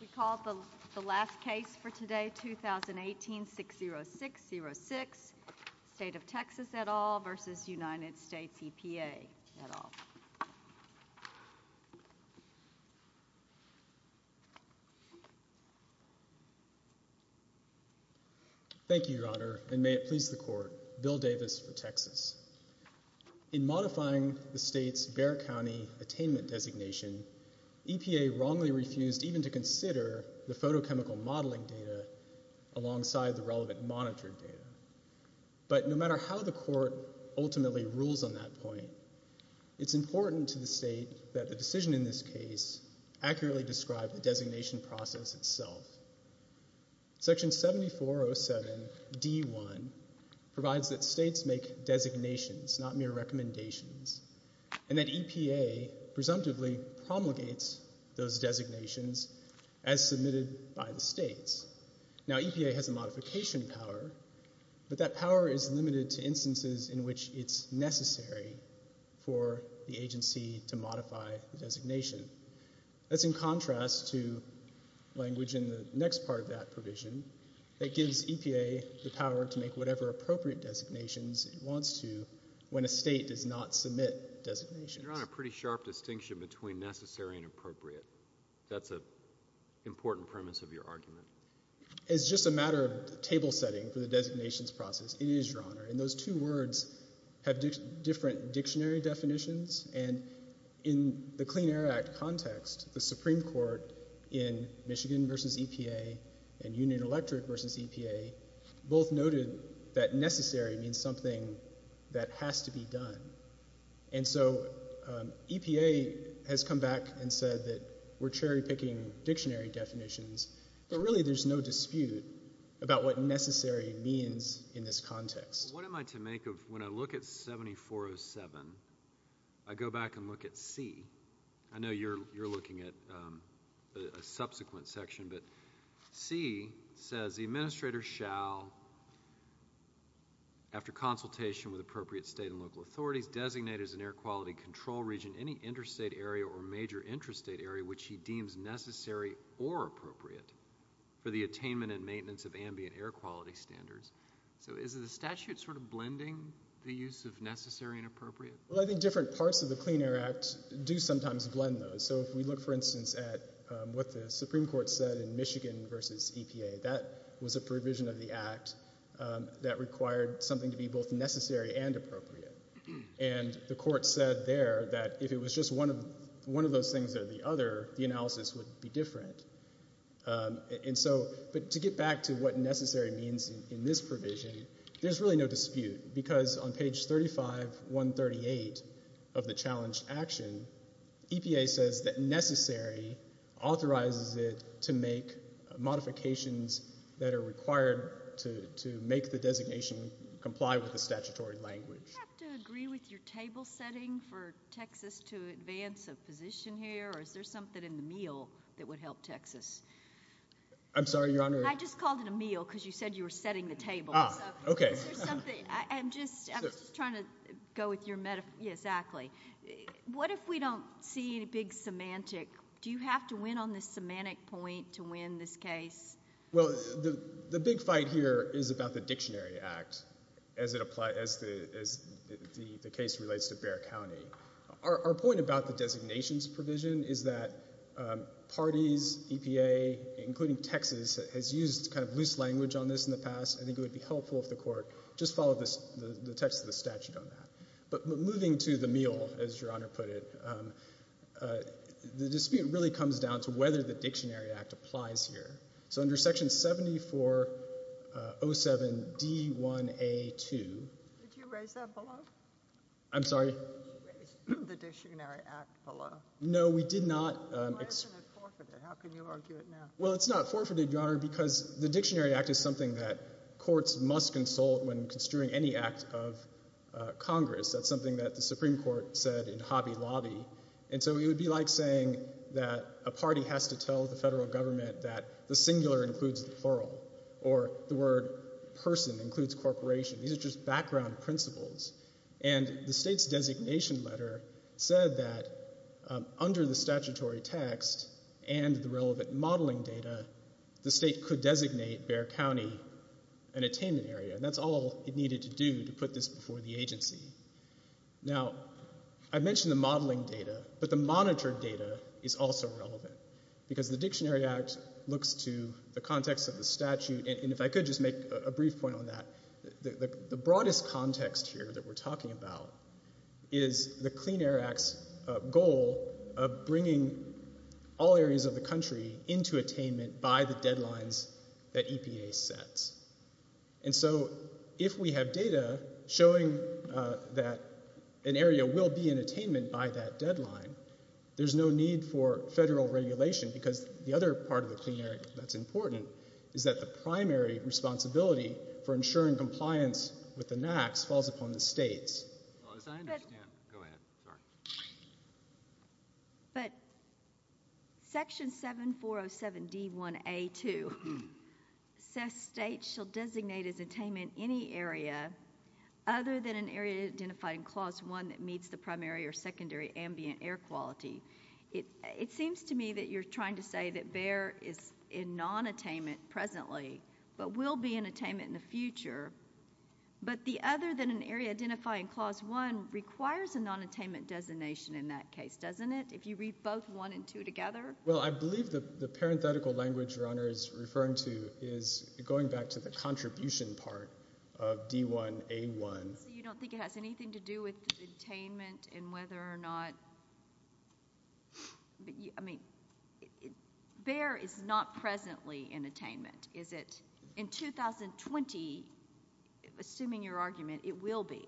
We call the last case for today, 2018-60606, State of Texas et al. v. United States EPA et al. Thank you, Your Honor, and may it please the Court, Bill Davis for Texas. In modifying the State's Bexar County attainment designation, EPA wrongly refused even to consider the photochemical modeling data alongside the relevant monitored data. But no matter how the Court ultimately rules on that point, it's important to the State that the decision in this case accurately describe the designation process itself. Section 7407d.1 provides that States make designations, not mere recommendations, and that EPA presumptively promulgates those designations as submitted by the States. Now, EPA has a modification power, but that power is limited to instances in which it's necessary That's in contrast to language in the next part of that provision that gives EPA the power to make whatever appropriate designations it wants to when a State does not submit designations. You're on a pretty sharp distinction between necessary and appropriate. That's an important premise of your argument. It's just a matter of table setting for the designations process, it is, Your Honor. And those two words have different dictionary definitions, and in the Clean Air Act context, the Supreme Court in Michigan v. EPA and Union Electric v. EPA both noted that necessary means something that has to be done. And so EPA has come back and said that we're cherry-picking dictionary definitions, but really there's no dispute about what necessary means in this context. What am I to make of when I look at 7407, I go back and look at C. I know you're looking at a subsequent section, but C says the administrator shall, after consultation with appropriate State and local authorities, designate as an air quality control region any interstate area or major interstate area which he deems necessary or appropriate for the attainment and maintenance of ambient air quality standards. So is the statute sort of blending the use of necessary and appropriate? Well, I think different parts of the Clean Air Act do sometimes blend those. So if we look, for instance, at what the Supreme Court said in Michigan v. EPA, that was a provision of the Act that required something to be both necessary and appropriate. And the court said there that if it was just one of those things or the other, the analysis would be different. But to get back to what necessary means in this provision, there's really no dispute because on page 35138 of the challenge action, EPA says that necessary authorizes it to make modifications that are required to make the designation comply with the statutory language. Do you have to agree with your table setting for Texas to advance a position here, or is there something in the meal that would help Texas? I'm sorry, Your Honor. I just called it a meal because you said you were setting the table. Ah, okay. I'm just trying to go with your metaphor. Yes, exactly. What if we don't see any big semantic? Do you have to win on the semantic point to win this case? Well, the big fight here is about the Dictionary Act as the case relates to Bexar County. Our point about the designations provision is that parties, EPA, including Texas, has used kind of loose language on this in the past. I think it would be helpful if the court just followed the text of the statute on that. But moving to the meal, as Your Honor put it, the dispute really comes down to whether the Dictionary Act applies here. So under Section 7407D1A2. Did you raise that below? I'm sorry? Did you raise the Dictionary Act below? No, we did not. Why isn't it forfeited? How can you argue it now? Well, it's not forfeited, Your Honor, because the Dictionary Act is something that courts must consult when construing any act of Congress. That's something that the Supreme Court said in Hobby Lobby. And so it would be like saying that a party has to tell the federal government that the singular includes the plural or the word person includes corporation. These are just background principles. And the state's designation letter said that under the statutory text and the relevant modeling data, the state could designate Bexar County an attainment area. And that's all it needed to do to put this before the agency. Now, I mentioned the modeling data, but the monitored data is also relevant because the Dictionary Act looks to the context of the statute. And if I could just make a brief point on that, the broadest context here that we're talking about is the Clean Air Act's goal of bringing all areas of the country into attainment by the deadlines that EPA sets. And so if we have data showing that an area will be in attainment by that deadline, there's no need for federal regulation because the other part of the Clean Air Act that's important is that the primary responsibility for ensuring compliance with the NAAQS falls upon the states. But Section 7407D1A2 says states shall designate as attainment any area other than an area identified in Clause 1 that meets the primary or secondary ambient air quality. It seems to me that you're trying to say that Bexar is in non-attainment presently but will be in attainment in the future. But the other than an area identified in Clause 1 requires a non-attainment designation in that case, doesn't it, if you read both 1 and 2 together? Well, I believe the parenthetical language Your Honor is referring to is going back to the contribution part of D1A1. So you don't think it has anything to do with attainment and whether or not, I mean, BEAR is not presently in attainment, is it? In 2020, assuming your argument, it will be.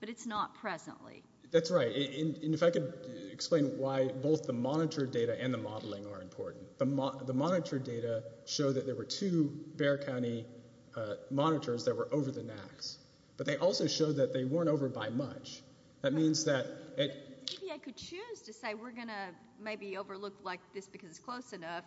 But it's not presently. That's right. And if I could explain why both the monitor data and the modeling are important. The monitor data show that there were two BEAR County monitors that were over the NAAQS. But they also show that they weren't over by much. That means that... Maybe I could choose to say we're going to maybe overlook like this because it's close enough.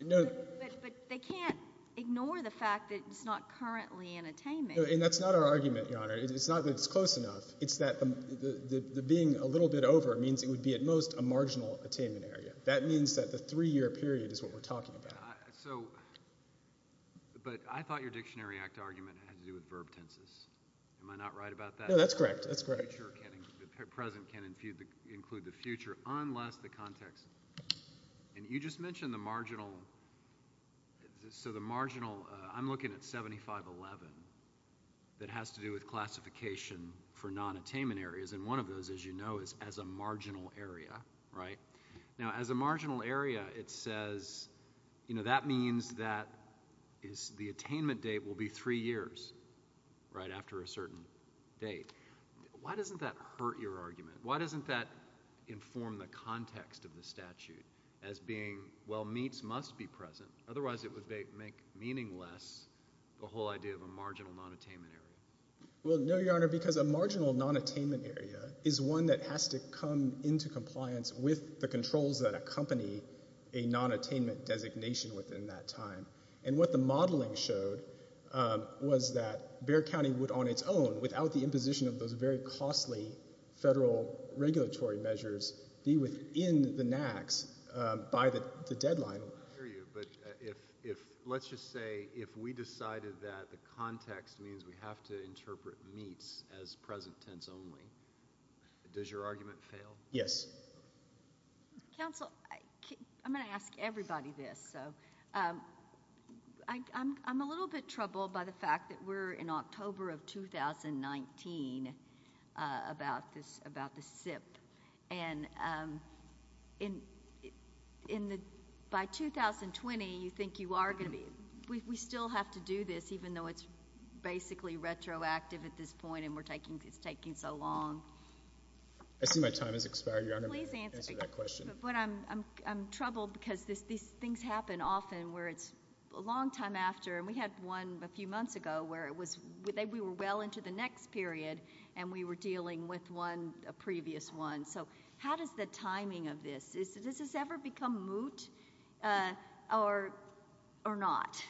But they can't ignore the fact that it's not currently in attainment. And that's not our argument, Your Honor. It's not that it's close enough. It's that the being a little bit over means it would be at most a marginal attainment area. That means that the three-year period is what we're talking about. But I thought your Dictionary Act argument had to do with verb tenses. Am I not right about that? No, that's correct. That's correct. The present can't include the future unless the context... And you just mentioned the marginal. So the marginal, I'm looking at 7511. That has to do with classification for non-attainment areas. And one of those, as you know, is as a marginal area, right? Now, as a marginal area, it says, you know, that means that the attainment date will be three years, right, after a certain date. Why doesn't that hurt your argument? Why doesn't that inform the context of the statute as being, well, meets must be present. Otherwise, it would make meaningless the whole idea of a marginal non-attainment area. Well, no, Your Honor, because a marginal non-attainment area is one that has to come into compliance with the controls that accompany a non-attainment designation within that time. And what the modeling showed was that Bexar County would on its own, without the imposition of those very costly federal regulatory measures, be within the NACs by the deadline. I hear you, but let's just say if we decided that the context means we have to interpret meets as present tense only, does your argument fail? Yes. Counsel, I'm going to ask everybody this. So, I'm a little bit troubled by the fact that we're in October of 2019 about this, about the SIP. And in the, by 2020, you think you are going to be, we still have to do this, even though it's basically retroactive at this point and we're taking, it's taking so long. I see my time has expired, Your Honor. Please answer that question. But I'm troubled because these things happen often where it's a long time after, and we had one a few months ago where it was, we were well into the next period, and we were dealing with one, a previous one. So how does the timing of this, does this ever become moot or not?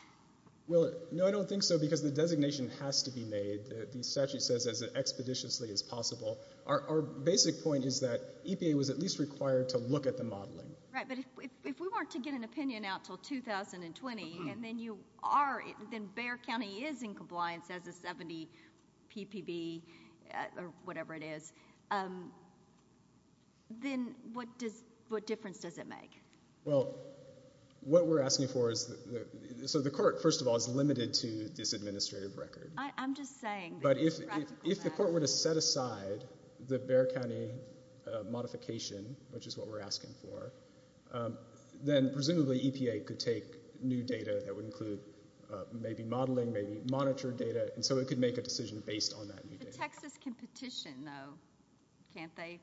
Well, no, I don't think so because the designation has to be made. The statute says as expeditiously as possible. Our basic point is that EPA was at least required to look at the modeling. Right, but if we weren't to get an opinion out until 2020 and then you are, then Bexar County is in compliance as a 70 PPB or whatever it is, then what difference does it make? Well, what we're asking for is, so the court, first of all, is limited to this administrative record. I'm just saying. But if the court were to set aside the Bexar County modification, which is what we're asking for, then presumably EPA could take new data that would include maybe modeling, maybe monitor data, and so it could make a decision based on that new data. But Texas can petition, though, can't they,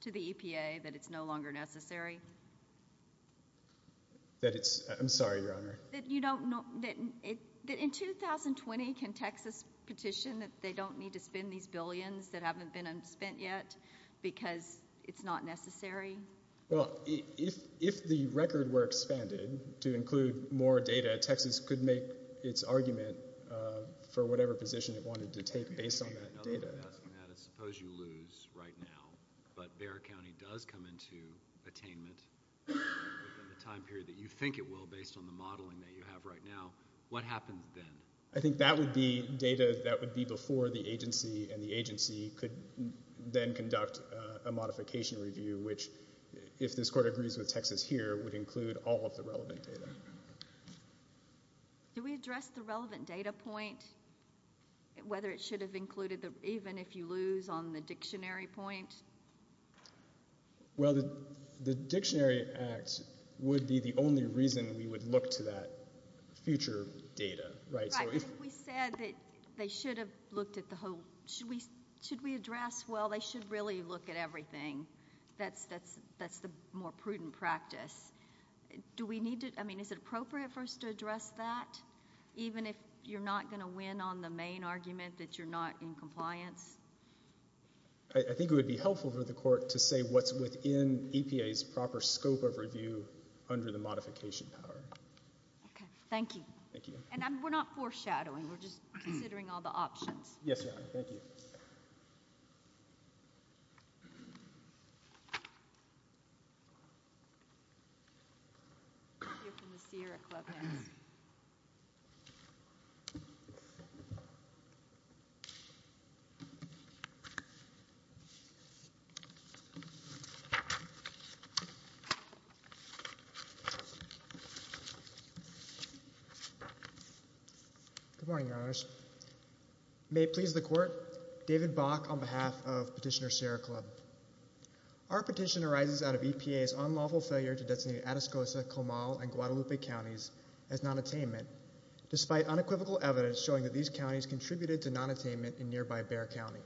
to the EPA that it's no longer necessary? That it's, I'm sorry, Your Honor. That you don't, that in 2020 can Texas petition that they don't need to spend these billions that haven't been spent yet because it's not necessary? Well, if the record were expanded to include more data, Texas could make its argument for whatever position it wanted to take based on that data. Another way of asking that is suppose you lose right now, but Bexar County does come into attainment within the time period that you think it will based on the modeling that you have right now, what happens then? I think that would be data that would be before the agency, and the agency could then conduct a modification review, which if this court agrees with Texas here, would include all of the relevant data. Do we address the relevant data point, whether it should have included, even if you lose, on the dictionary point? Well, the dictionary act would be the only reason we would look to that future data. Right. We said that they should have looked at the whole, should we address, well, they should really look at everything. That's the more prudent practice. Do we need to, I mean, is it appropriate for us to address that, even if you're not going to win on the main argument that you're not in compliance? I think it would be helpful for the court to say what's within EPA's proper scope of review under the modification power. Okay. Thank you. Thank you. And we're not foreshadowing. We're just considering all the options. Yes, Your Honor. Thank you. Thank you. Good morning, Your Honors. May it please the court, David Bock on behalf of Petitioner Sierra Club. Our petition arises out of EPA's unlawful failure to designate Atascosa, Comal, and Guadalupe counties as nonattainment, despite unequivocal evidence showing that these counties contributed to nonattainment in nearby Bexar County.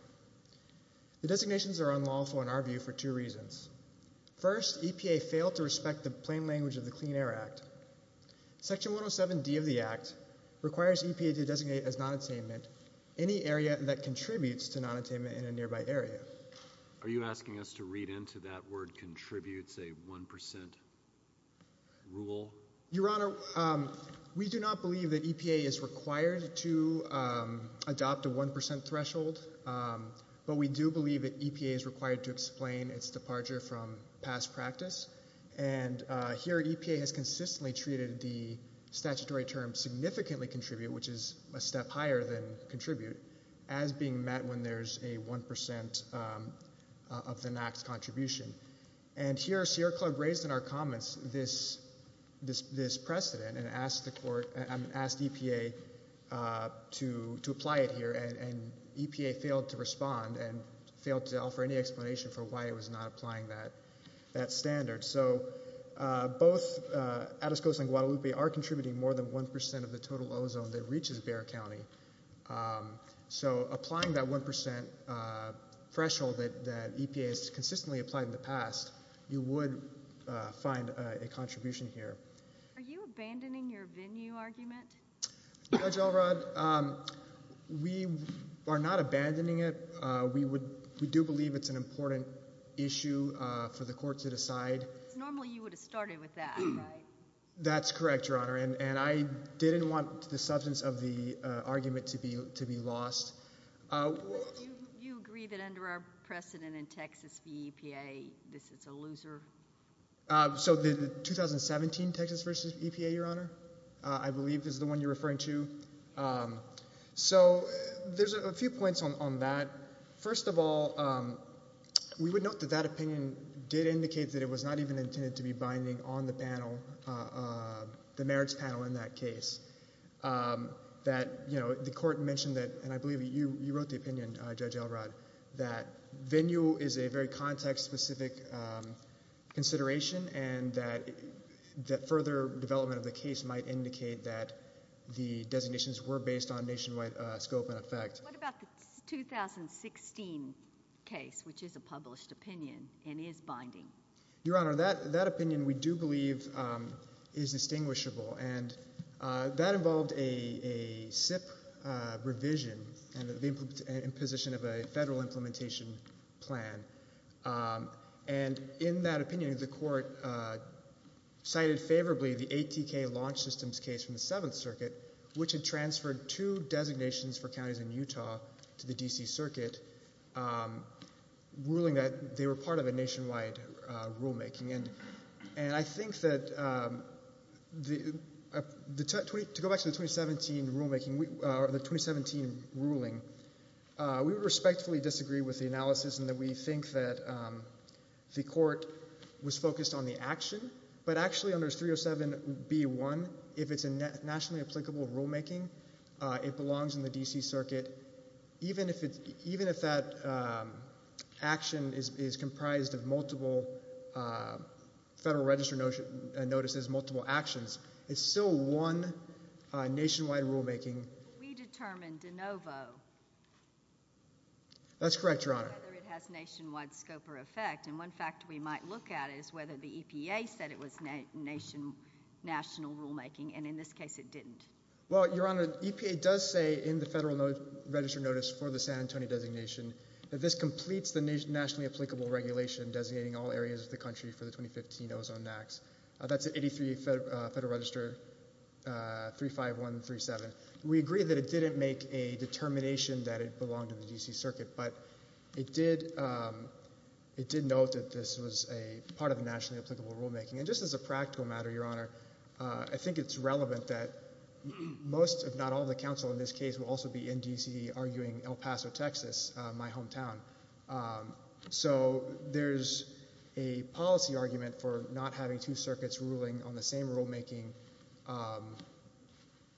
The designations are unlawful in our view for two reasons. First, EPA failed to respect the plain language of the Clean Air Act. Section 107D of the Act requires EPA to designate as nonattainment any area that contributes to nonattainment in a nearby area. Are you asking us to read into that word contributes a 1% rule? Your Honor, we do not believe that EPA is required to adopt a 1% threshold, but we do believe that EPA is required to explain its departure from past practice. And here EPA has consistently treated the statutory term significantly contribute, which is a step higher than contribute, as being met when there's a 1% of the NAAQS contribution. And here Sierra Club raised in our comments this precedent and asked EPA to apply it here, and EPA failed to respond and failed to offer any explanation for why it was not applying that standard. So both Atascosa and Guadalupe are contributing more than 1% of the total ozone that reaches Bexar County. So applying that 1% threshold that EPA has consistently applied in the past, you would find a contribution here. Are you abandoning your venue argument? Judge Alrod, we are not abandoning it. We do believe it's an important issue for the court to decide. Normally you would have started with that, right? That's correct, Your Honor, and I didn't want the substance of the argument to be lost. Do you agree that under our precedent in Texas, the EPA, this is a loser? So the 2017 Texas versus EPA, Your Honor, I believe is the one you're referring to. So there's a few points on that. First of all, we would note that that opinion did indicate that it was not even intended to be binding on the panel, the marriage panel in that case. The court mentioned that, and I believe you wrote the opinion, Judge Alrod, that venue is a very context-specific consideration and that further development of the case might indicate that the designations were based on nationwide scope and effect. What about the 2016 case, which is a published opinion and is binding? Your Honor, that opinion we do believe is distinguishable, and that involved a SIP revision and the imposition of a federal implementation plan. And in that opinion, the court cited favorably the ATK launch systems case from the Seventh Circuit, which had transferred two designations for counties in Utah to the D.C. Circuit, ruling that they were part of a nationwide rulemaking. And I think that to go back to the 2017 ruling, we respectfully disagree with the analysis in that we think that the court was focused on the action, but actually under 307B1, if it's a nationally applicable rulemaking, it belongs in the D.C. Circuit. Even if that action is comprised of multiple federal register notices, multiple actions, it's still one nationwide rulemaking. We determined de novo. That's correct, Your Honor. Whether it has nationwide scope or effect. And one fact we might look at is whether the EPA said it was national rulemaking, and in this case it didn't. Well, Your Honor, the EPA does say in the federal register notice for the San Antonio designation that this completes the nationally applicable regulation designating all areas of the country for the 2015 ozone acts. That's at 83 Federal Register 35137. We agree that it didn't make a determination that it belonged in the D.C. Circuit, but it did note that this was a part of the nationally applicable rulemaking. And just as a practical matter, Your Honor, I think it's relevant that most, if not all, of the counsel in this case will also be in D.C. arguing El Paso, Texas, my hometown. So there's a policy argument for not having two circuits ruling on the same rulemaking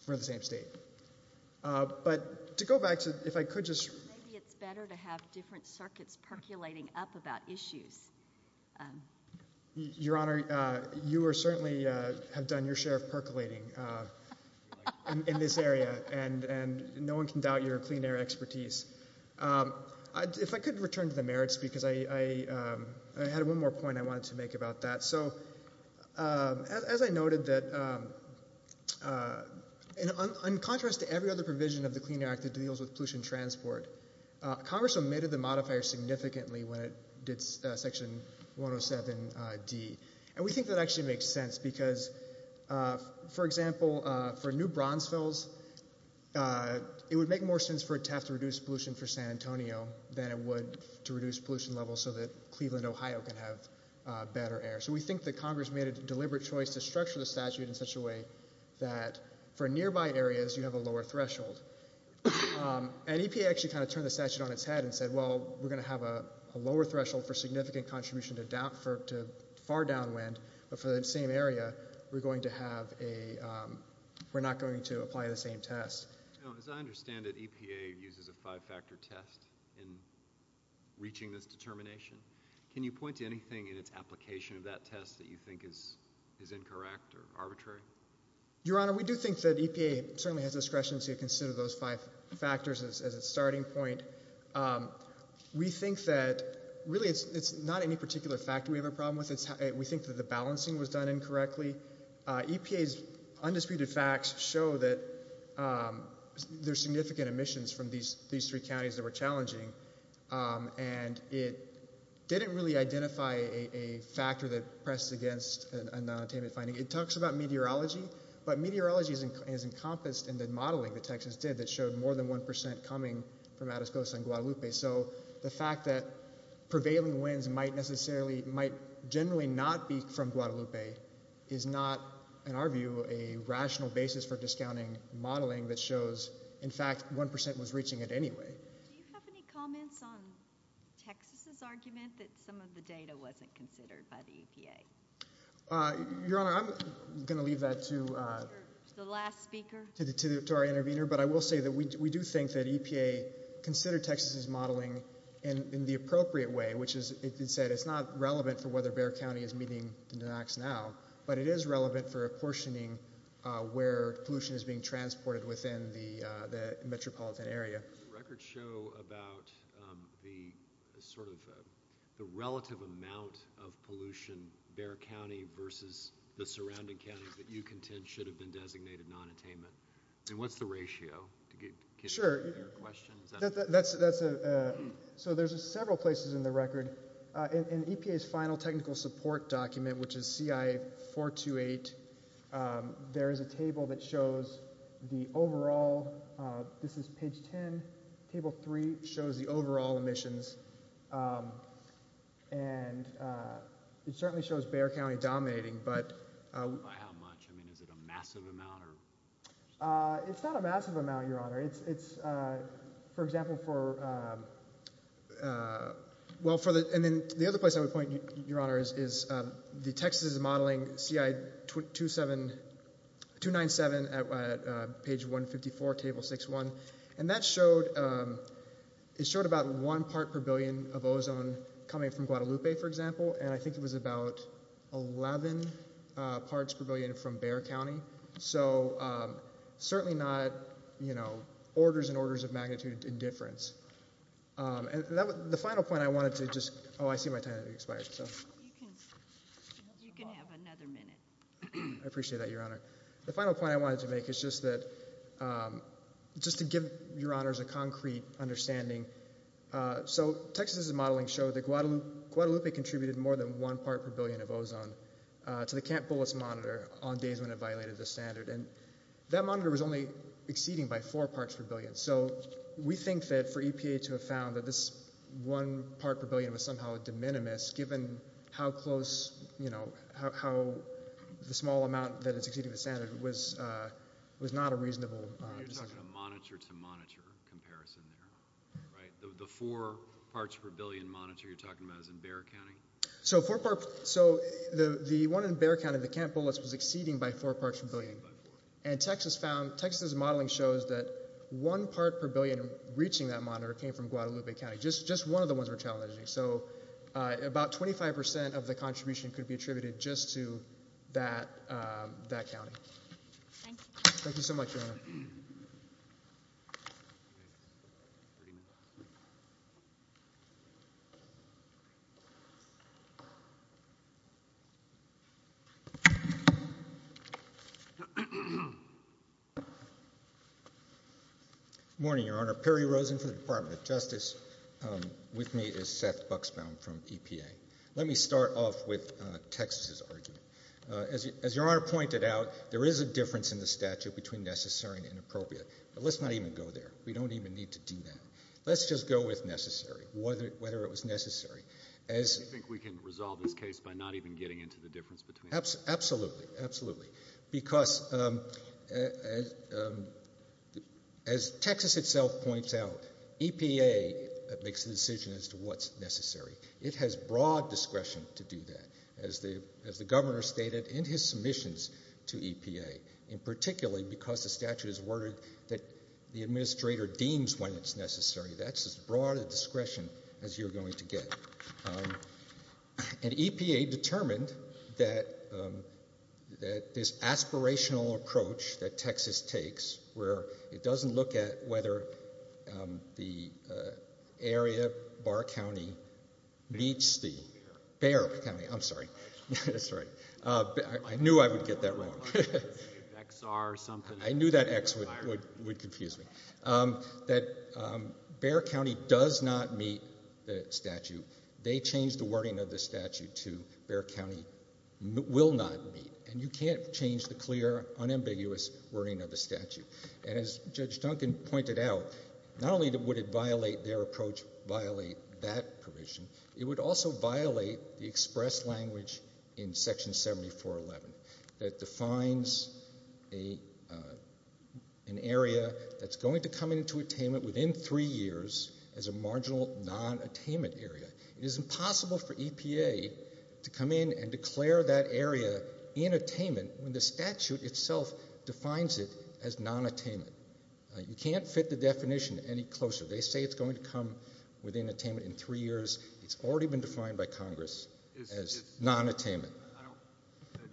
for the same state. But to go back to, if I could just. Maybe it's better to have different circuits percolating up about issues. Your Honor, you certainly have done your share of percolating in this area, and no one can doubt your clean air expertise. If I could return to the merits, because I had one more point I wanted to make about that. So as I noted, in contrast to every other provision of the Clean Air Act that deals with pollution transport, Congress omitted the modifier significantly when it did Section 107D. And we think that actually makes sense, because, for example, for new bronze fills, it would make more sense for it to have to reduce pollution for San Antonio than it would to reduce pollution levels so that Cleveland, Ohio, can have better air. So we think that Congress made a deliberate choice to structure the statute in such a way that for nearby areas, you have a lower threshold. And EPA actually kind of turned the statute on its head and said, well, we're going to have a lower threshold for significant contribution to far downwind, but for the same area, we're not going to apply the same test. As I understand it, EPA uses a five-factor test in reaching this determination. Can you point to anything in its application of that test that you think is incorrect or arbitrary? Your Honor, we do think that EPA certainly has discretion to consider those five factors as its starting point. We think that really it's not any particular factor we have a problem with. We think that the balancing was done incorrectly. EPA's undisputed facts show that there's significant emissions from these three counties that were challenging, and it didn't really identify a factor that pressed against a nonattainment finding. It talks about meteorology, but meteorology is encompassed in the modeling that Texas did that showed more than 1% coming from Atascosa and Guadalupe. So the fact that prevailing winds might generally not be from Guadalupe is not, in our view, a rational basis for discounting modeling that shows, in fact, 1% was reaching it anyway. Do you have any comments on Texas's argument that some of the data wasn't considered by the EPA? Your Honor, I'm going to leave that to the last speaker, to our intervener, but I will say that we do think that EPA considered Texas's modeling in the appropriate way, which is, as it's said, it's not relevant for whether Bexar County is meeting the NAAQS now, but it is relevant for apportioning where pollution is being transported within the metropolitan area. Records show about the sort of the relative amount of pollution Bexar County versus the surrounding counties that you contend should have been designated nonattainment. And what's the ratio? Sure. So there's several places in the record. In EPA's final technical support document, which is CI-428, there is a table that shows the overall. This is page 10. Table 3 shows the overall emissions, and it certainly shows Bexar County dominating. How much? I mean, is it a massive amount? It's not a massive amount, Your Honor. It's, for example, for, well, and then the other place I would point, Your Honor, is the Texas is modeling CI-297 at page 154, table 6-1, and that showed about one part per billion of ozone coming from Guadalupe, for example, and I think it was about 11 parts per billion from Bexar County. So certainly not, you know, orders and orders of magnitude indifference. And the final point I wanted to just, oh, I see my time has expired, so. You can have another minute. I appreciate that, Your Honor. The final point I wanted to make is just that, just to give Your Honors a concrete understanding, so Texas's modeling showed that Guadalupe contributed more than one part per billion of ozone to the Camp Bullets monitor on days when it violated the standard, and that monitor was only exceeding by four parts per billion. So we think that for EPA to have found that this one part per billion was somehow de minimis, given how close, you know, how the small amount that is exceeding the standard was not a reasonable. You're talking a monitor to monitor comparison there, right? The four parts per billion monitor you're talking about is in Bexar County? So the one in Bexar County, the Camp Bullets, was exceeding by four parts per billion. And Texas's modeling shows that one part per billion reaching that monitor came from Guadalupe County, just one of the ones we're challenging. So about 25% of the contribution could be attributed just to that county. Thank you. Thank you so much, Your Honor. Good morning, Your Honor. Perry Rosen from the Department of Justice. With me is Seth Buxbaum from EPA. Let me start off with Texas's argument. As Your Honor pointed out, there is a difference in the statute between necessary and inappropriate. But let's not even go there. We don't even need to do that. Let's just go with necessary, whether it was necessary. Do you think we can resolve this case by not even getting into the difference between them? Absolutely. Absolutely. Because as Texas itself points out, EPA makes the decision as to what's necessary. It has broad discretion to do that. As the governor stated in his submissions to EPA, and particularly because the statute is worded that the administrator deems when it's necessary. That's as broad a discretion as you're going to get. And EPA determined that this aspirational approach that Texas takes, where it doesn't look at whether the area, Barr County, meets the Bear County. I'm sorry. That's all right. I knew I would get that wrong. XR something. I knew that X would confuse me. That Bear County does not meet the statute. They changed the wording of the statute to Bear County will not meet. And you can't change the clear, unambiguous wording of the statute. And as Judge Duncan pointed out, not only would it violate their approach, violate that provision, it would also violate the express language in Section 7411 that defines an area that's going to come into attainment within three years as a marginal non-attainment area. It is impossible for EPA to come in and declare that area in attainment when the statute itself defines it as non-attainment. You can't fit the definition any closer. They say it's going to come within attainment in three years. It's already been defined by Congress as non-attainment.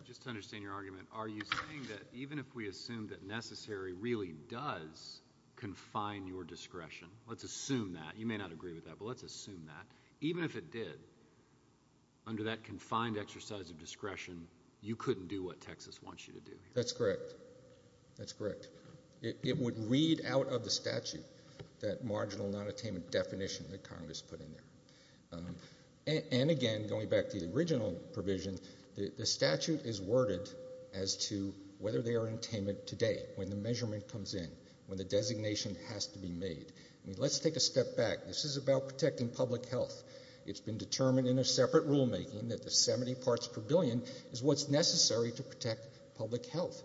Just to understand your argument, are you saying that even if we assume that necessary really does confine your discretion, let's assume that. You may not agree with that, but let's assume that. Even if it did, under that confined exercise of discretion, you couldn't do what Texas wants you to do. That's correct. That's correct. It would read out of the statute that marginal non-attainment definition that Congress put in there. And, again, going back to the original provision, the statute is worded as to whether they are in attainment today, when the measurement comes in, when the designation has to be made. I mean, let's take a step back. This is about protecting public health. It's been determined in a separate rulemaking that the 70 parts per billion is what's necessary to protect public health.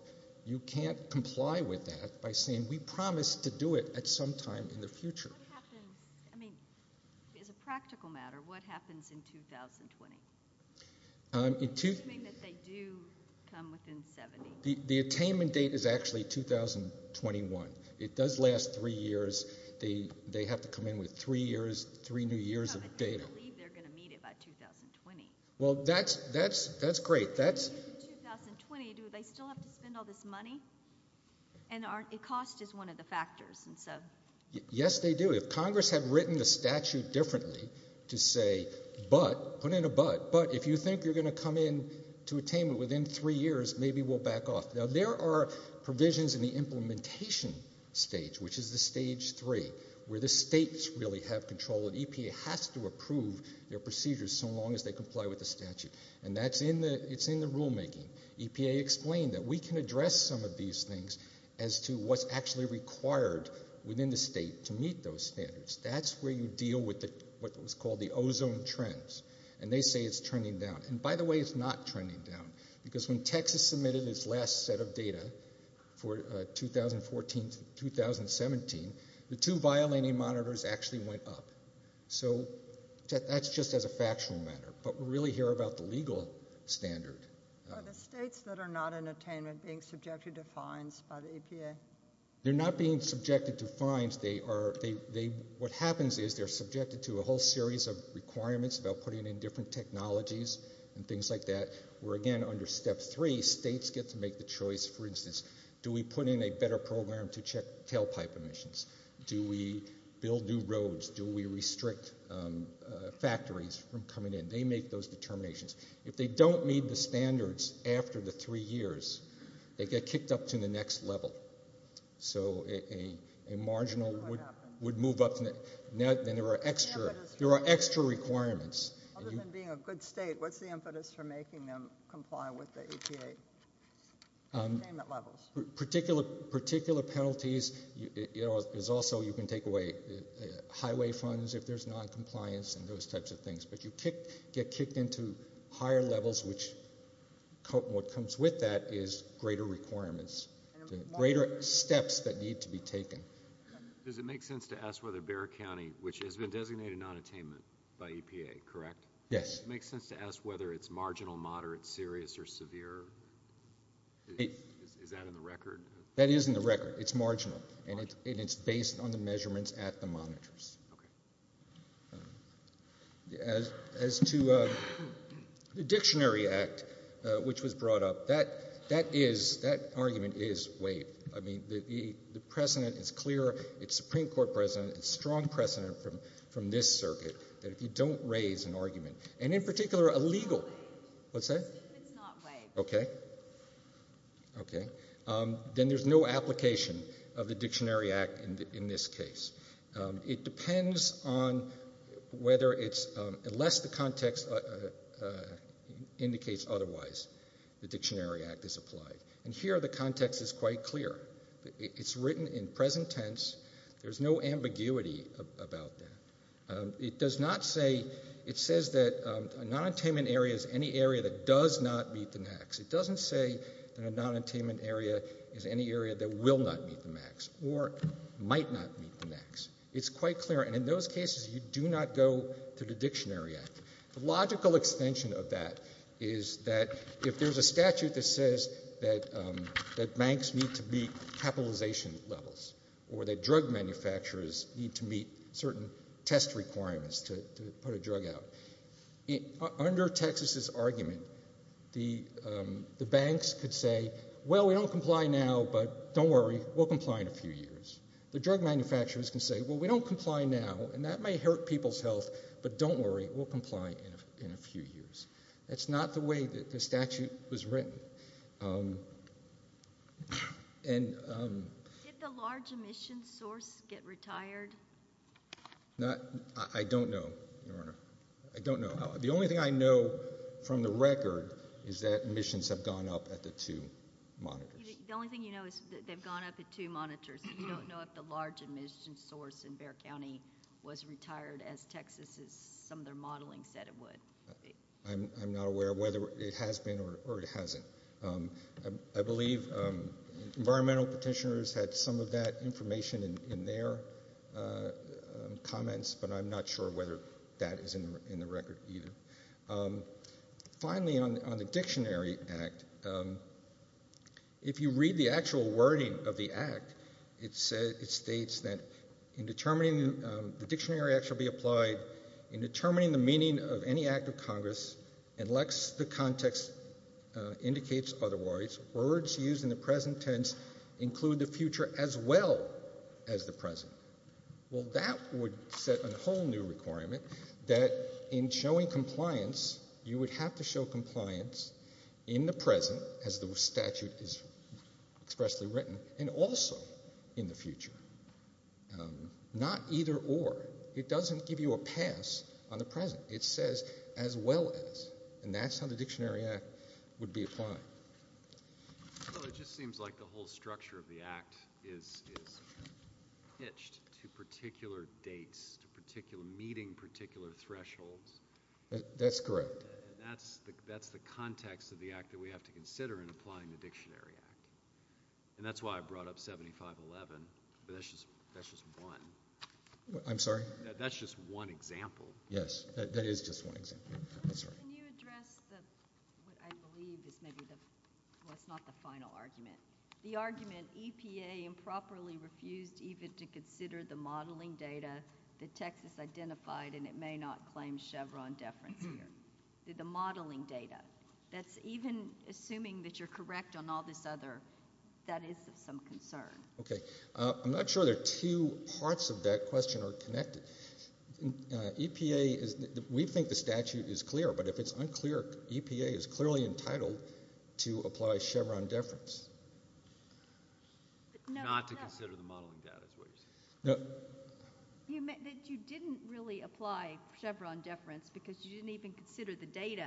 You can't comply with that by saying we promise to do it at some time in the future. What happens, I mean, as a practical matter, what happens in 2020? You mean that they do come within 70? The attainment date is actually 2021. It does last three years. They have to come in with three years, three new years of data. I can't believe they're going to meet it by 2020. Well, that's great. In 2020, do they still have to spend all this money? And cost is one of the factors. Yes, they do. If Congress had written the statute differently to say, but, put in a but, but if you think you're going to come in to attainment within three years, maybe we'll back off. Now, there are provisions in the implementation stage, which is the stage three, where the states really have control. EPA has to approve their procedures so long as they comply with the statute. And that's in the rulemaking. EPA explained that we can address some of these things as to what's actually required within the state to meet those standards. That's where you deal with what's called the ozone trends. And they say it's trending down. And, by the way, it's not trending down. Because when Texas submitted its last set of data for 2014 to 2017, the two violating monitors actually went up. So that's just as a factual matter. But we're really here about the legal standard. Are the states that are not in attainment being subjected to fines by the EPA? They're not being subjected to fines. What happens is they're subjected to a whole series of requirements about putting in different technologies and things like that, where, again, under step three, states get to make the choice, for instance, do we put in a better program to check tailpipe emissions? Do we build new roads? Do we restrict factories from coming in? They make those determinations. If they don't meet the standards after the three years, they get kicked up to the next level. So a marginal would move up, and there are extra requirements. Other than being a good state, what's the impetus for making them comply with the EPA attainment levels? Particular penalties is also you can take away highway funds if there's noncompliance and those types of things. But you get kicked into higher levels, which what comes with that is greater requirements, greater steps that need to be taken. Does it make sense to ask whether Bexar County, which has been designated nonattainment by EPA, correct? Yes. Does it make sense to ask whether it's marginal, moderate, serious, or severe? Is that in the record? That is in the record. It's marginal, and it's based on the measurements at the monitors. Okay. As to the Dictionary Act, which was brought up, that argument is waived. I mean, the precedent is clear. It's Supreme Court precedent. It's strong precedent from this circuit that if you don't raise an argument, and in particular a legal— It's not waived. What's that? It's not waived. Okay. Okay. Then there's no application of the Dictionary Act in this case. It depends on whether it's—unless the context indicates otherwise, the Dictionary Act is applied. And here the context is quite clear. It's written in present tense. There's no ambiguity about that. It does not say—it says that a nonattainment area is any area that does not meet the max. It doesn't say that a nonattainment area is any area that will not meet the max or might not meet the max. It's quite clear. And in those cases, you do not go to the Dictionary Act. The logical extension of that is that if there's a statute that says that banks need to meet capitalization levels or that drug manufacturers need to meet certain test requirements to put a drug out, under Texas's argument, the banks could say, well, we don't comply now, but don't worry, we'll comply in a few years. The drug manufacturers can say, well, we don't comply now, and that may hurt people's health, but don't worry, we'll comply in a few years. That's not the way that the statute was written. Did the large emissions source get retired? I don't know, Your Honor. I don't know. The only thing I know from the record is that emissions have gone up at the two monitors. The only thing you know is that they've gone up at two monitors. You don't know if the large emissions source in Bexar County was retired as Texas, as some of their modeling said it would. I'm not aware of whether it has been or it hasn't. I believe environmental petitioners had some of that information in their comments, but I'm not sure whether that is in the record either. Finally, on the Dictionary Act, if you read the actual wording of the Act, it states that the Dictionary Act shall be applied in determining the meaning of any act of Congress and lest the context indicates otherwise, words used in the present tense include the future as well as the present. Well, that would set a whole new requirement that in showing compliance, you would have to show compliance in the present as the statute is expressly written and also in the future. Not either or. It doesn't give you a pass on the present. It says as well as, and that's how the Dictionary Act would be applied. Well, it just seems like the whole structure of the Act is hitched to particular dates, to meeting particular thresholds. That's correct. That's the context of the Act that we have to consider in applying the Dictionary Act, and that's why I brought up 7511, but that's just one. I'm sorry? That's just one example. Yes, that is just one example. Can you address what I believe is maybe what's not the final argument? The argument EPA improperly refused even to consider the modeling data that Texas identified, and it may not claim Chevron deference here. The modeling data, that's even assuming that you're correct on all this other, that is of some concern. Okay. I'm not sure the two parts of that question are connected. EPA, we think the statute is clear, but if it's unclear, EPA is clearly entitled to apply Chevron deference. Not to consider the modeling data is what you're saying. You meant that you didn't really apply Chevron deference because you didn't even consider the data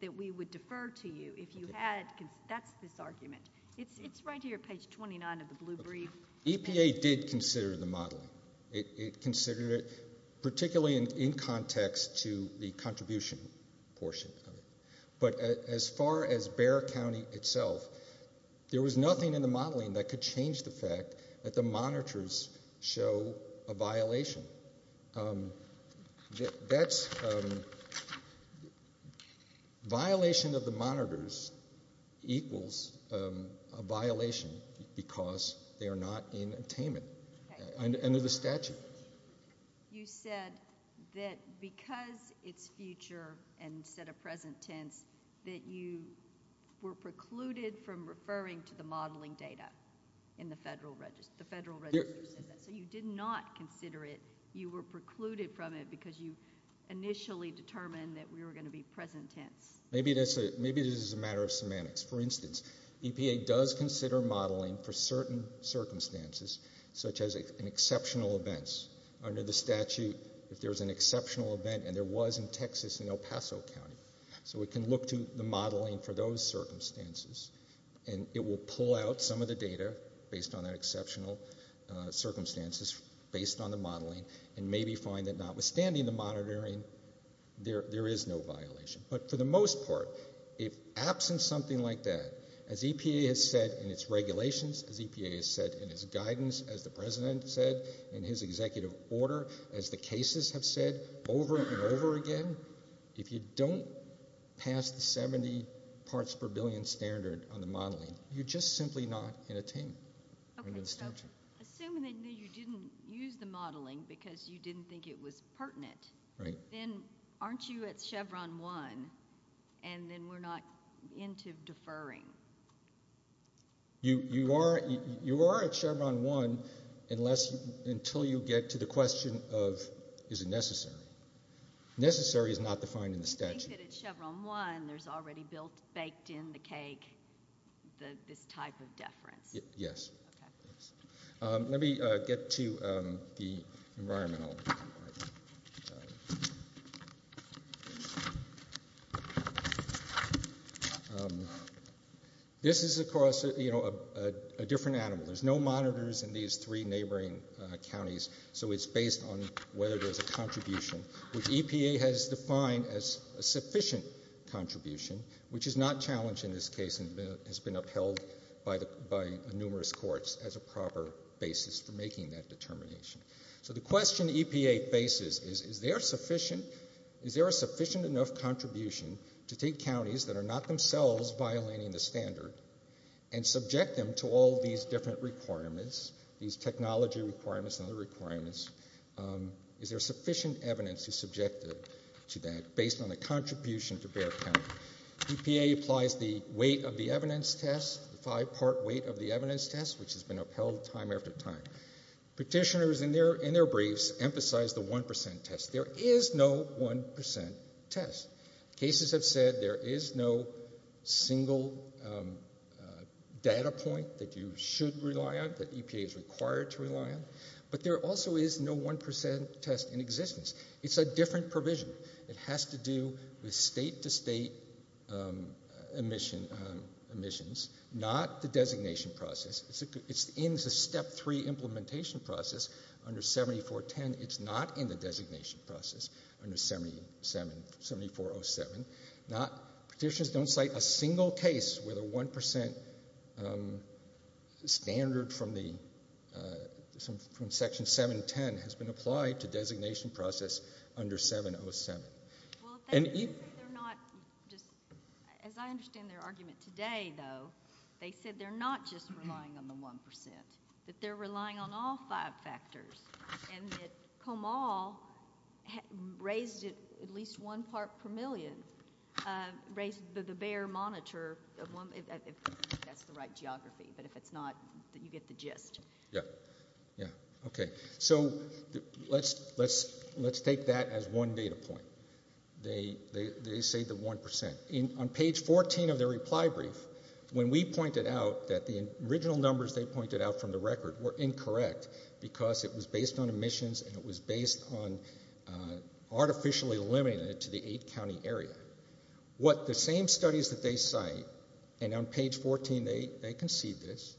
that we would defer to you if you had, because that's this argument. It's right here, page 29 of the blue brief. EPA did consider the modeling. It considered it, particularly in context to the contribution portion of it. But as far as Bexar County itself, there was nothing in the modeling that could change the fact that the monitors show a violation. That's violation of the monitors equals a violation because they are not in attainment. Okay. Under the statute. You said that because it's future and instead of present tense, that you were precluded from referring to the modeling data in the federal register. The federal register says that. So you did not consider it. You were precluded from it because you initially determined that we were going to be present tense. Maybe this is a matter of semantics. For instance, EPA does consider modeling for certain circumstances, such as in exceptional events. Under the statute, if there's an exceptional event, and there was in Texas and El Paso County. So we can look to the modeling for those circumstances. And it will pull out some of the data based on that exceptional circumstances, based on the modeling, and maybe find that notwithstanding the monitoring, there is no violation. But for the most part, if absent something like that, as EPA has said in its regulations, as EPA has said in its guidance, as the President has said in his executive order, as the cases have said over and over again, if you don't pass the 70 parts per billion standard on the modeling, you're just simply not in attainment. Assuming that you didn't use the modeling because you didn't think it was pertinent, then aren't you at Chevron 1 and then we're not into deferring? You are at Chevron 1 until you get to the question of is it necessary. Necessary is not defined in the statute. You think that at Chevron 1 there's already baked in the cake this type of deference? Yes. Okay. Let me get to the environmental part. This is, of course, a different animal. There's no monitors in these three neighboring counties, so it's based on whether there's a contribution, which EPA has defined as a sufficient contribution, which is not challenged in this case and has been upheld by numerous courts as a proper basis for making that determination. So the question EPA faces is, is there a sufficient enough contribution to take counties that are not themselves violating the standard and subject them to all these different requirements, these technology requirements and other requirements, is there sufficient evidence to subject them to that based on the contribution to their county? EPA applies the weight of the evidence test, the five-part weight of the evidence test, which has been upheld time after time. Petitioners in their briefs emphasize the 1% test. There is no 1% test. Cases have said there is no single data point that you should rely on, that EPA is required to rely on, but there also is no 1% test in existence. It's a different provision. It has to do with state-to-state emissions, not the designation process. It's in the Step 3 implementation process under 7410. It's not in the designation process under 7407. Petitioners don't cite a single case where the 1% standard from Section 710 has been applied to designation process under 707. As I understand their argument today, though, they said they're not just relying on the 1%, that they're relying on all five factors, and that Komal raised it at least one part per million, raised the Bayer monitor if that's the right geography. But if it's not, you get the gist. Yeah. Yeah. Okay. So let's take that as one data point. They say the 1%. On page 14 of their reply brief, when we pointed out that the original numbers they pointed out from the record were incorrect because it was based on emissions and it was based on artificially limiting it to the eight-county area, what the same studies that they cite, and on page 14 they concede this,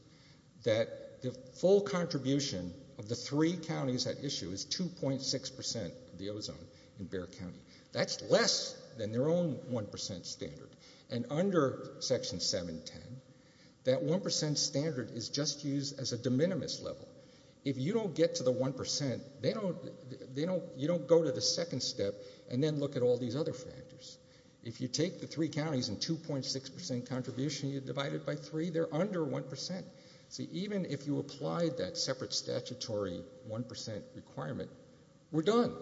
that the full contribution of the three counties at issue is 2.6% of the ozone in Bayer County. That's less than their own 1% standard. And under Section 710, that 1% standard is just used as a de minimis level. If you don't get to the 1%, you don't go to the second step and then look at all these other factors. If you take the three counties and 2.6% contribution, you divide it by three, they're under 1%. See, even if you applied that separate statutory 1% requirement, we're done.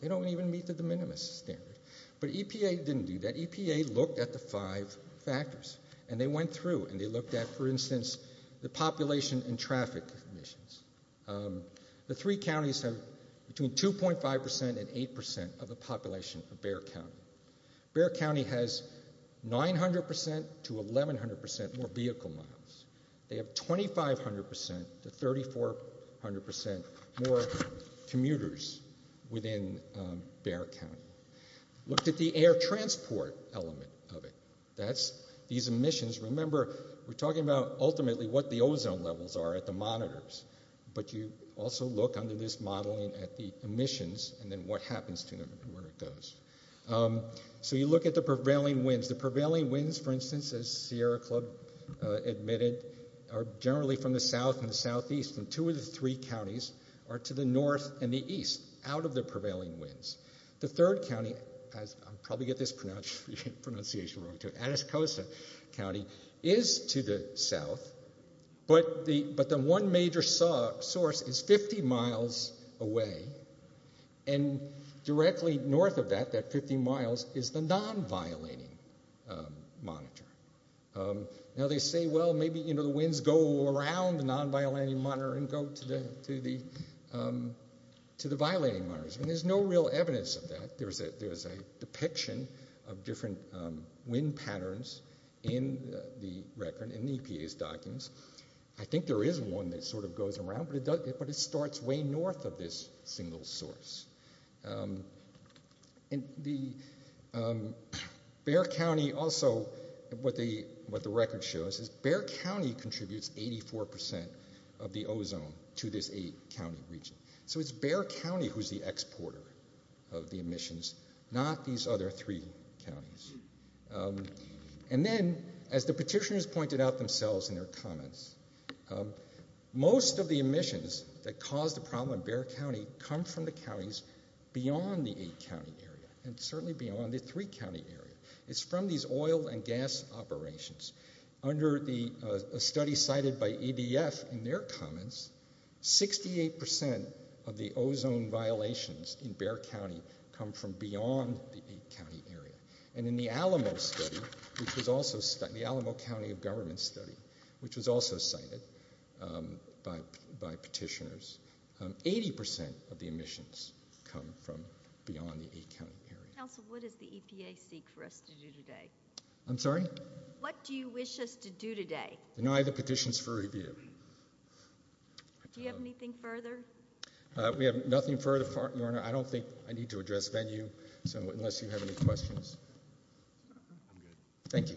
They don't even meet the de minimis standard. But EPA didn't do that. EPA looked at the five factors and they went through and they looked at, for instance, the population and traffic emissions. The three counties have between 2.5% and 8% of the population of Bayer County. Bayer County has 900% to 1,100% more vehicle miles. They have 2,500% to 3,400% more commuters within Bayer County. Looked at the air transport element of it. That's these emissions. Remember, we're talking about ultimately what the ozone levels are at the monitors. But you also look under this modeling at the emissions and then what happens to them and where it goes. So you look at the prevailing winds. The prevailing winds, for instance, as Sierra Club admitted, are generally from the south and the southeast. And two of the three counties are to the north and the east, out of the prevailing winds. The third county is to the south, but the one major source is 50 miles away. And directly north of that, that 50 miles, is the non-violating monitor. Now they say, well, maybe the winds go around the non-violating monitor and go to the violating monitors. And there's no real evidence of that. There's a depiction of different wind patterns in the record, in the EPA's documents. I think there is one that sort of goes around, but it starts way north of this single source. And the Bayer County also, what the record shows is Bayer County contributes 84% of the ozone to this eight-county region. So it's Bayer County who's the exporter of the emissions, not these other three counties. And then, as the petitioners pointed out themselves in their comments, most of the emissions that cause the problem in Bayer County come from the counties beyond the eight-county area and certainly beyond the three-county area. It's from these oil and gas operations. Under the study cited by EDF in their comments, 68% of the ozone violations in Bayer County come from beyond the eight-county area. And in the Alamo study, the Alamo County of Government study, which was also cited by petitioners, 80% of the emissions come from beyond the eight-county area. Council, what does the EPA seek for us to do today? I'm sorry? What do you wish us to do today? Deny the petitions for review. Do you have anything further? We have nothing further, Your Honor. I don't think I need to address venue unless you have any questions. I'm good. Thank you. Thank you.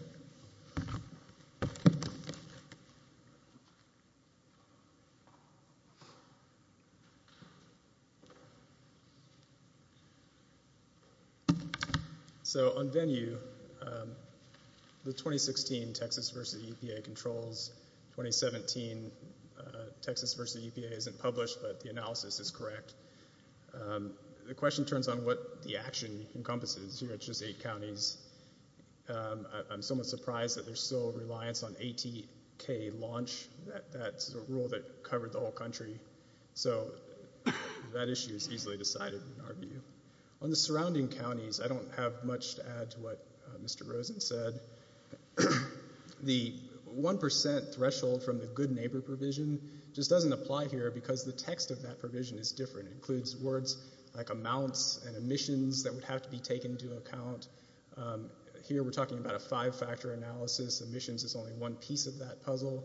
So on venue, the 2016 Texas v. EPA controls. 2017 Texas v. EPA isn't published, but the analysis is correct. The question turns on what the action encompasses here at just eight counties. I'm somewhat surprised that there's still a reliance on ATK launch. That's a rule that covered the whole country. So that issue is easily decided in our view. On the surrounding counties, I don't have much to add to what Mr. Rosen said. The 1% threshold from the good neighbor provision just doesn't apply here because the text of that provision is different. It includes words like amounts and emissions that would have to be taken into account. Here we're talking about a five-factor analysis. Emissions is only one piece of that puzzle.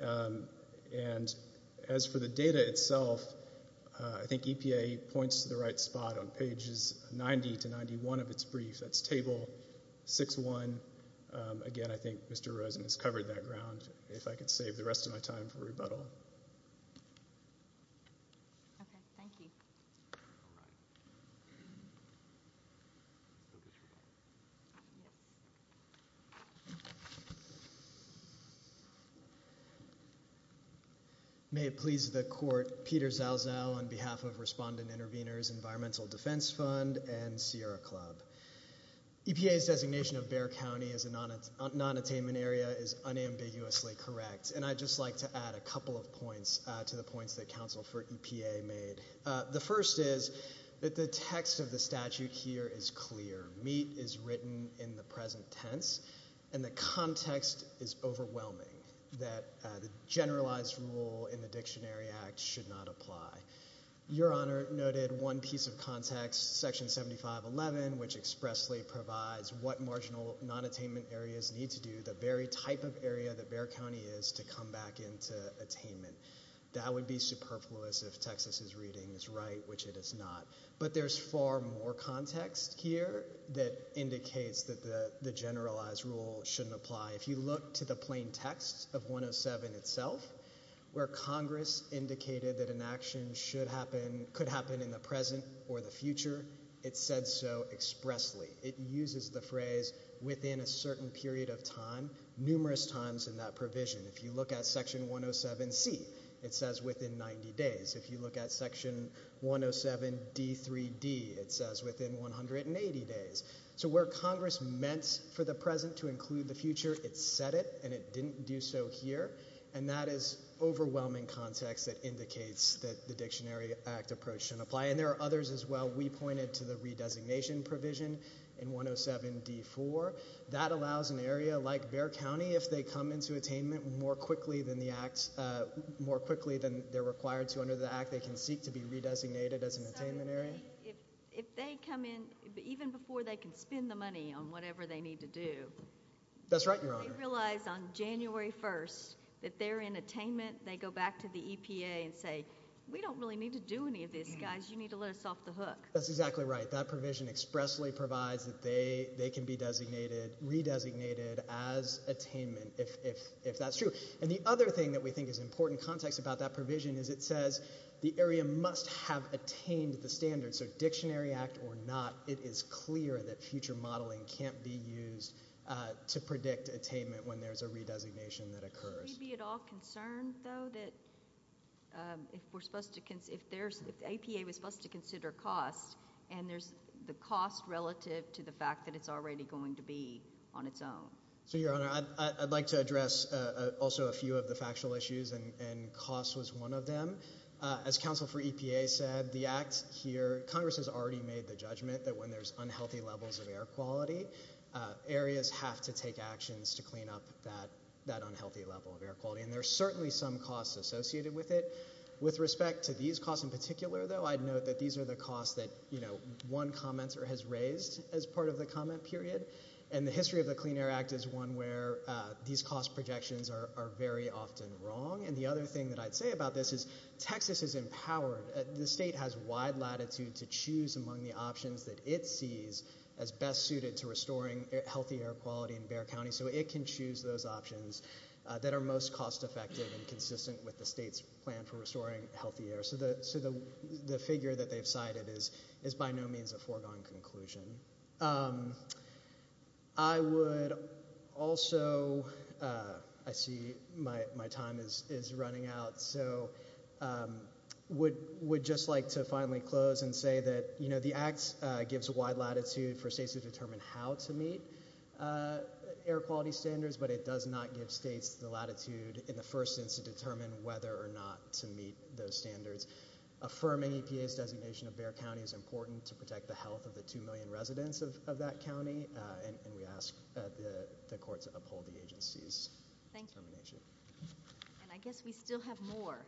And as for the data itself, I think EPA points to the right spot on pages 90 to 91 of its brief. That's table 6-1. Again, I think Mr. Rosen has covered that ground. If I could save the rest of my time for rebuttal. Okay. Thank you. May it please the court. Peter Zalzow on behalf of Respondent Intervenors Environmental Defense Fund and Sierra Club. EPA's designation of Bexar County as a non-attainment area is unambiguously correct. And I'd just like to add a couple of points to the points that counsel for EPA made. The first is that the text of the statute here is clear. Meet is written in the present tense. And the context is overwhelming that the generalized rule in the Dictionary Act should not apply. Your Honor noted one piece of context, Section 7511, which expressly provides what marginal non-attainment areas need to do, the very type of area that Bexar County is, to come back into attainment. That would be superfluous if Texas's reading is right, which it is not. But there's far more context here that indicates that the generalized rule shouldn't apply. If you look to the plain text of 107 itself, where Congress indicated that an action should happen, could happen in the present or the future, it said so expressly. It uses the phrase within a certain period of time, numerous times in that provision. If you look at Section 107C, it says within 90 days. If you look at Section 107D3D, it says within 180 days. So where Congress meant for the present to include the future, it said it, and it didn't do so here. And that is overwhelming context that indicates that the Dictionary Act approach shouldn't apply. And there are others as well. We pointed to the re-designation provision in 107D4. That allows an area like Bexar County, if they come into attainment more quickly than the act, more quickly than they're required to under the act, they can seek to be re-designated as an attainment area. If they come in, even before they can spend the money on whatever they need to do. That's right, Your Honor. They realize on January 1st that they're in attainment. They go back to the EPA and say, we don't really need to do any of this, guys. You need to let us off the hook. That's exactly right. That provision expressly provides that they can be designated, re-designated as attainment if that's true. And the other thing that we think is important context about that provision is it says the area must have attained the standards. So Dictionary Act or not, it is clear that future modeling can't be used to predict attainment when there's a re-designation that occurs. Would we be at all concerned, though, that if we're supposed to, if there's, if the EPA was supposed to consider cost, and there's the cost relative to the fact that it's already going to be on its own? So, Your Honor, I'd like to address also a few of the factual issues, and cost was one of them. As counsel for EPA said, the act here, Congress has already made the judgment that when there's unhealthy levels of air quality, areas have to take actions to clean up that unhealthy level of air quality. And there's certainly some costs associated with it. With respect to these costs in particular, though, I'd note that these are the costs that, you know, one commenter has raised as part of the comment period. And the history of the Clean Air Act is one where these cost projections are very often wrong. And the other thing that I'd say about this is Texas is empowered. The state has wide latitude to choose among the options that it sees as best suited to restoring healthy air quality in Bexar County. So it can choose those options that are most cost effective and consistent with the state's plan for restoring healthy air. So the figure that they've cited is by no means a foregone conclusion. I would also, I see my time is running out, so would just like to finally close and say that, you know, the act gives wide latitude for states to determine how to meet air quality standards, but it does not give states the latitude in the first instance to determine whether or not to meet those standards. Affirming EPA's designation of Bexar County is important to protect the health of the 2 million residents of that county, and we ask the court to uphold the agency's determination. Thank you. And I guess we still have more,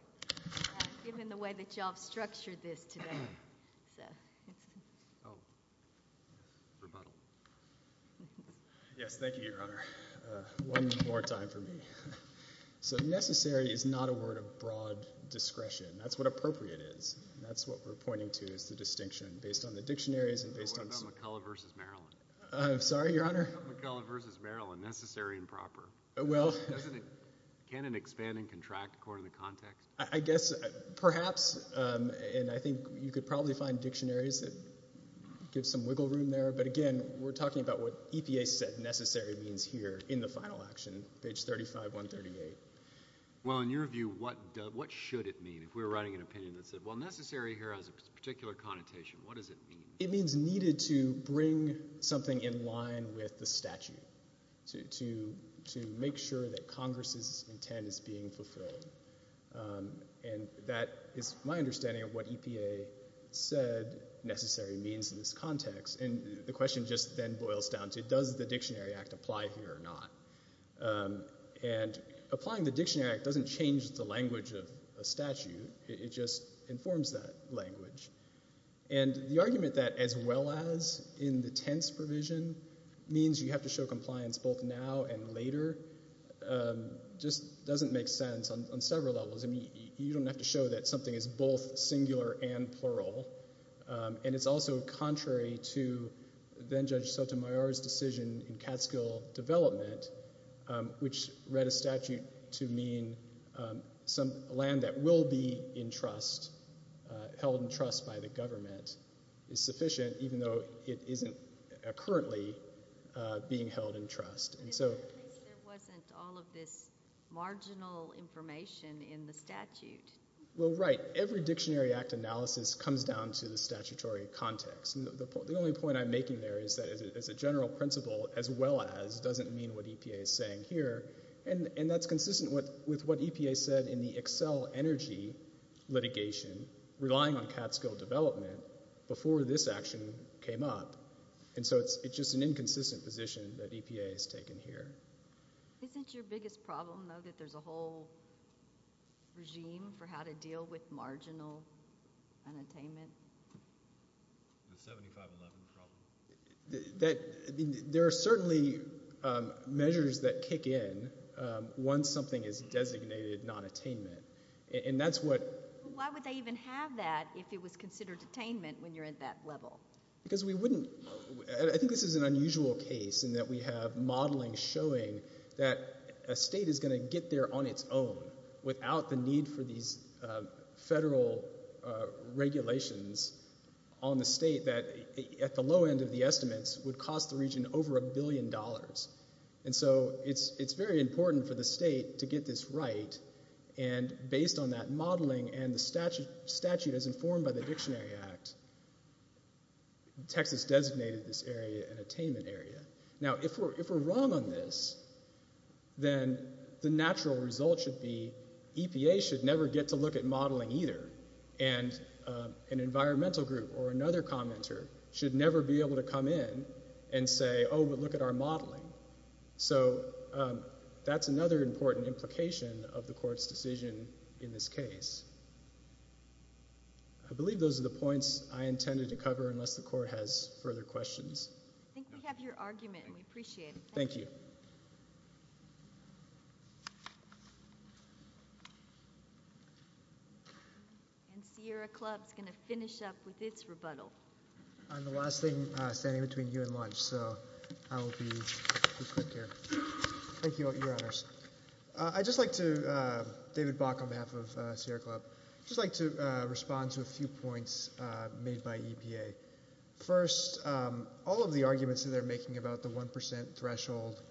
given the way that you all have structured this today. Oh, rebuttal. Yes, thank you, Your Honor. One more time for me. So necessary is not a word of broad discretion. That's what appropriate is. That's what we're pointing to is the distinction based on the dictionaries and based on the- What about McCullough v. Maryland? I'm sorry, Your Honor? What about McCullough v. Maryland, necessary and proper? Well- Can it expand and contract according to context? I guess perhaps, and I think you could probably find dictionaries that give some wiggle room there, but, again, we're talking about what EPA said necessary means here in the final action, page 35138. Well, in your view, what should it mean? If we were writing an opinion that said, well, necessary here has a particular connotation, what does it mean? It means needed to bring something in line with the statute to make sure that Congress's intent is being fulfilled, and that is my understanding of what EPA said necessary means in this context. And the question just then boils down to does the Dictionary Act apply here or not? And applying the Dictionary Act doesn't change the language of a statute. It just informs that language. And the argument that as well as in the tense provision means you have to show compliance both now and later just doesn't make sense on several levels. I mean, you don't have to show that something is both singular and plural. And it's also contrary to then-Judge Sotomayor's decision in Catskill Development, which read a statute to mean some land that will be in trust, held in trust by the government, is sufficient even though it isn't currently being held in trust. In that case, there wasn't all of this marginal information in the statute. Well, right. Every Dictionary Act analysis comes down to the statutory context. The only point I'm making there is that as a general principle, as well as doesn't mean what EPA is saying here, and that's consistent with what EPA said in the Excel Energy litigation relying on Catskill Development before this action came up. And so it's just an inconsistent position that EPA has taken here. Isn't your biggest problem, though, that there's a whole regime for how to deal with marginal unattainment? The 75-11 problem. There are certainly measures that kick in once something is designated nonattainment. And that's what – Why would they even have that if it was considered attainment when you're at that level? Because we wouldn't – I think this is an unusual case in that we have modeling showing that a state is going to get there on its own without the need for these federal regulations on the state that at the low end of the estimates would cost the region over a billion dollars. And so it's very important for the state to get this right. And based on that modeling and the statute as informed by the Dictionary Act, Texas designated this area an attainment area. Now, if we're wrong on this, then the natural result should be EPA should never get to look at modeling either, and an environmental group or another commenter should never be able to come in and say, oh, but look at our modeling. So that's another important implication of the Court's decision in this case. I believe those are the points I intended to cover unless the Court has further questions. I think we have your argument, and we appreciate it. Thank you. And Sierra Club's going to finish up with its rebuttal. I'm the last thing standing between you and lunch, so I will be quick here. Thank you, Your Honors. I'd just like to, David Bock on behalf of Sierra Club, just like to respond to a few points made by EPA. First, all of the arguments that they're making about the 1 percent threshold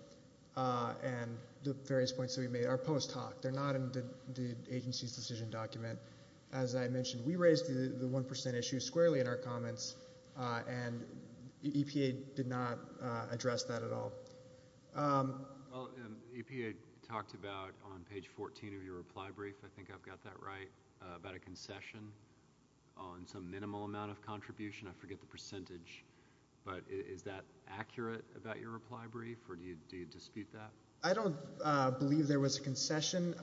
and the various points that we made are post hoc. They're not in the agency's decision document. As I mentioned, we raised the 1 percent issue squarely in our comments, and EPA did not address that at all. EPA talked about on page 14 of your reply brief, I think I've got that right, about a concession on some minimal amount of contribution. I forget the percentage, but is that accurate about your reply brief, or do you dispute that? I don't believe there was a concession.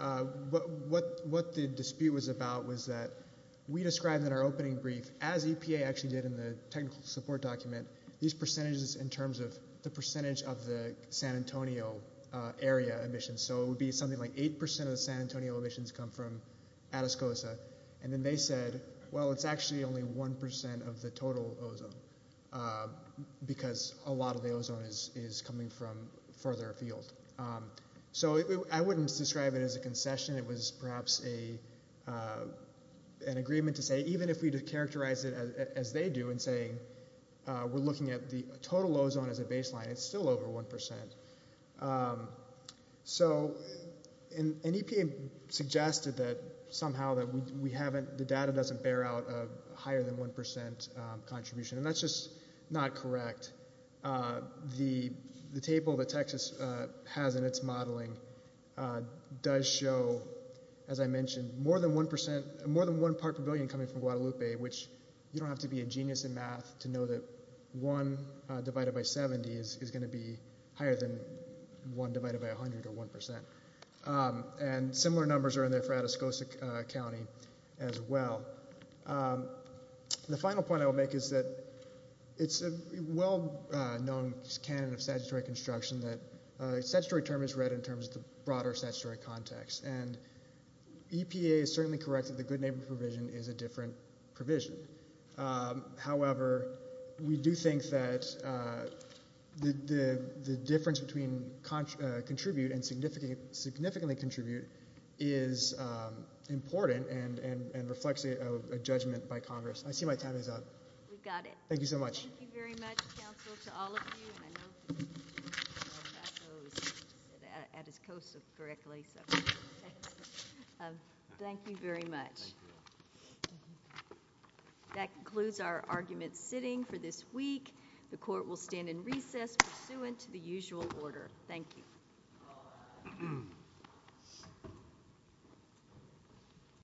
What the dispute was about was that we described in our opening brief, as EPA actually did in the technical support document, these percentages in terms of the percentage of the San Antonio area emissions. So it would be something like 8 percent of the San Antonio emissions come from Atascosa. And then they said, well, it's actually only 1 percent of the total ozone because a lot of the ozone is coming from further afield. So I wouldn't describe it as a concession. It was perhaps an agreement to say even if we characterize it as they do in saying we're looking at the total ozone as a baseline, it's still over 1 percent. So EPA suggested that somehow the data doesn't bear out a higher than 1 percent contribution, and that's just not correct. The table that Texas has in its modeling does show, as I mentioned, more than 1 part per billion coming from Guadalupe, which you don't have to be a genius in math to know that 1 divided by 70 is going to be higher than 1 divided by 100 or 1 percent. And similar numbers are in there for Atascosa County as well. The final point I will make is that it's a well-known canon of statutory construction that a statutory term is read in terms of the broader statutory context. And EPA is certainly correct that the good neighbor provision is a different provision. However, we do think that the difference between contribute and significantly contribute is important and reflects a judgment by Congress. I see my time is up. We've got it. Thank you so much. Thank you very much, counsel, to all of you. And I know that Atascosa correctly, so thank you very much. That concludes our argument sitting for this week. The court will stand in recess pursuant to the usual order. Thank you.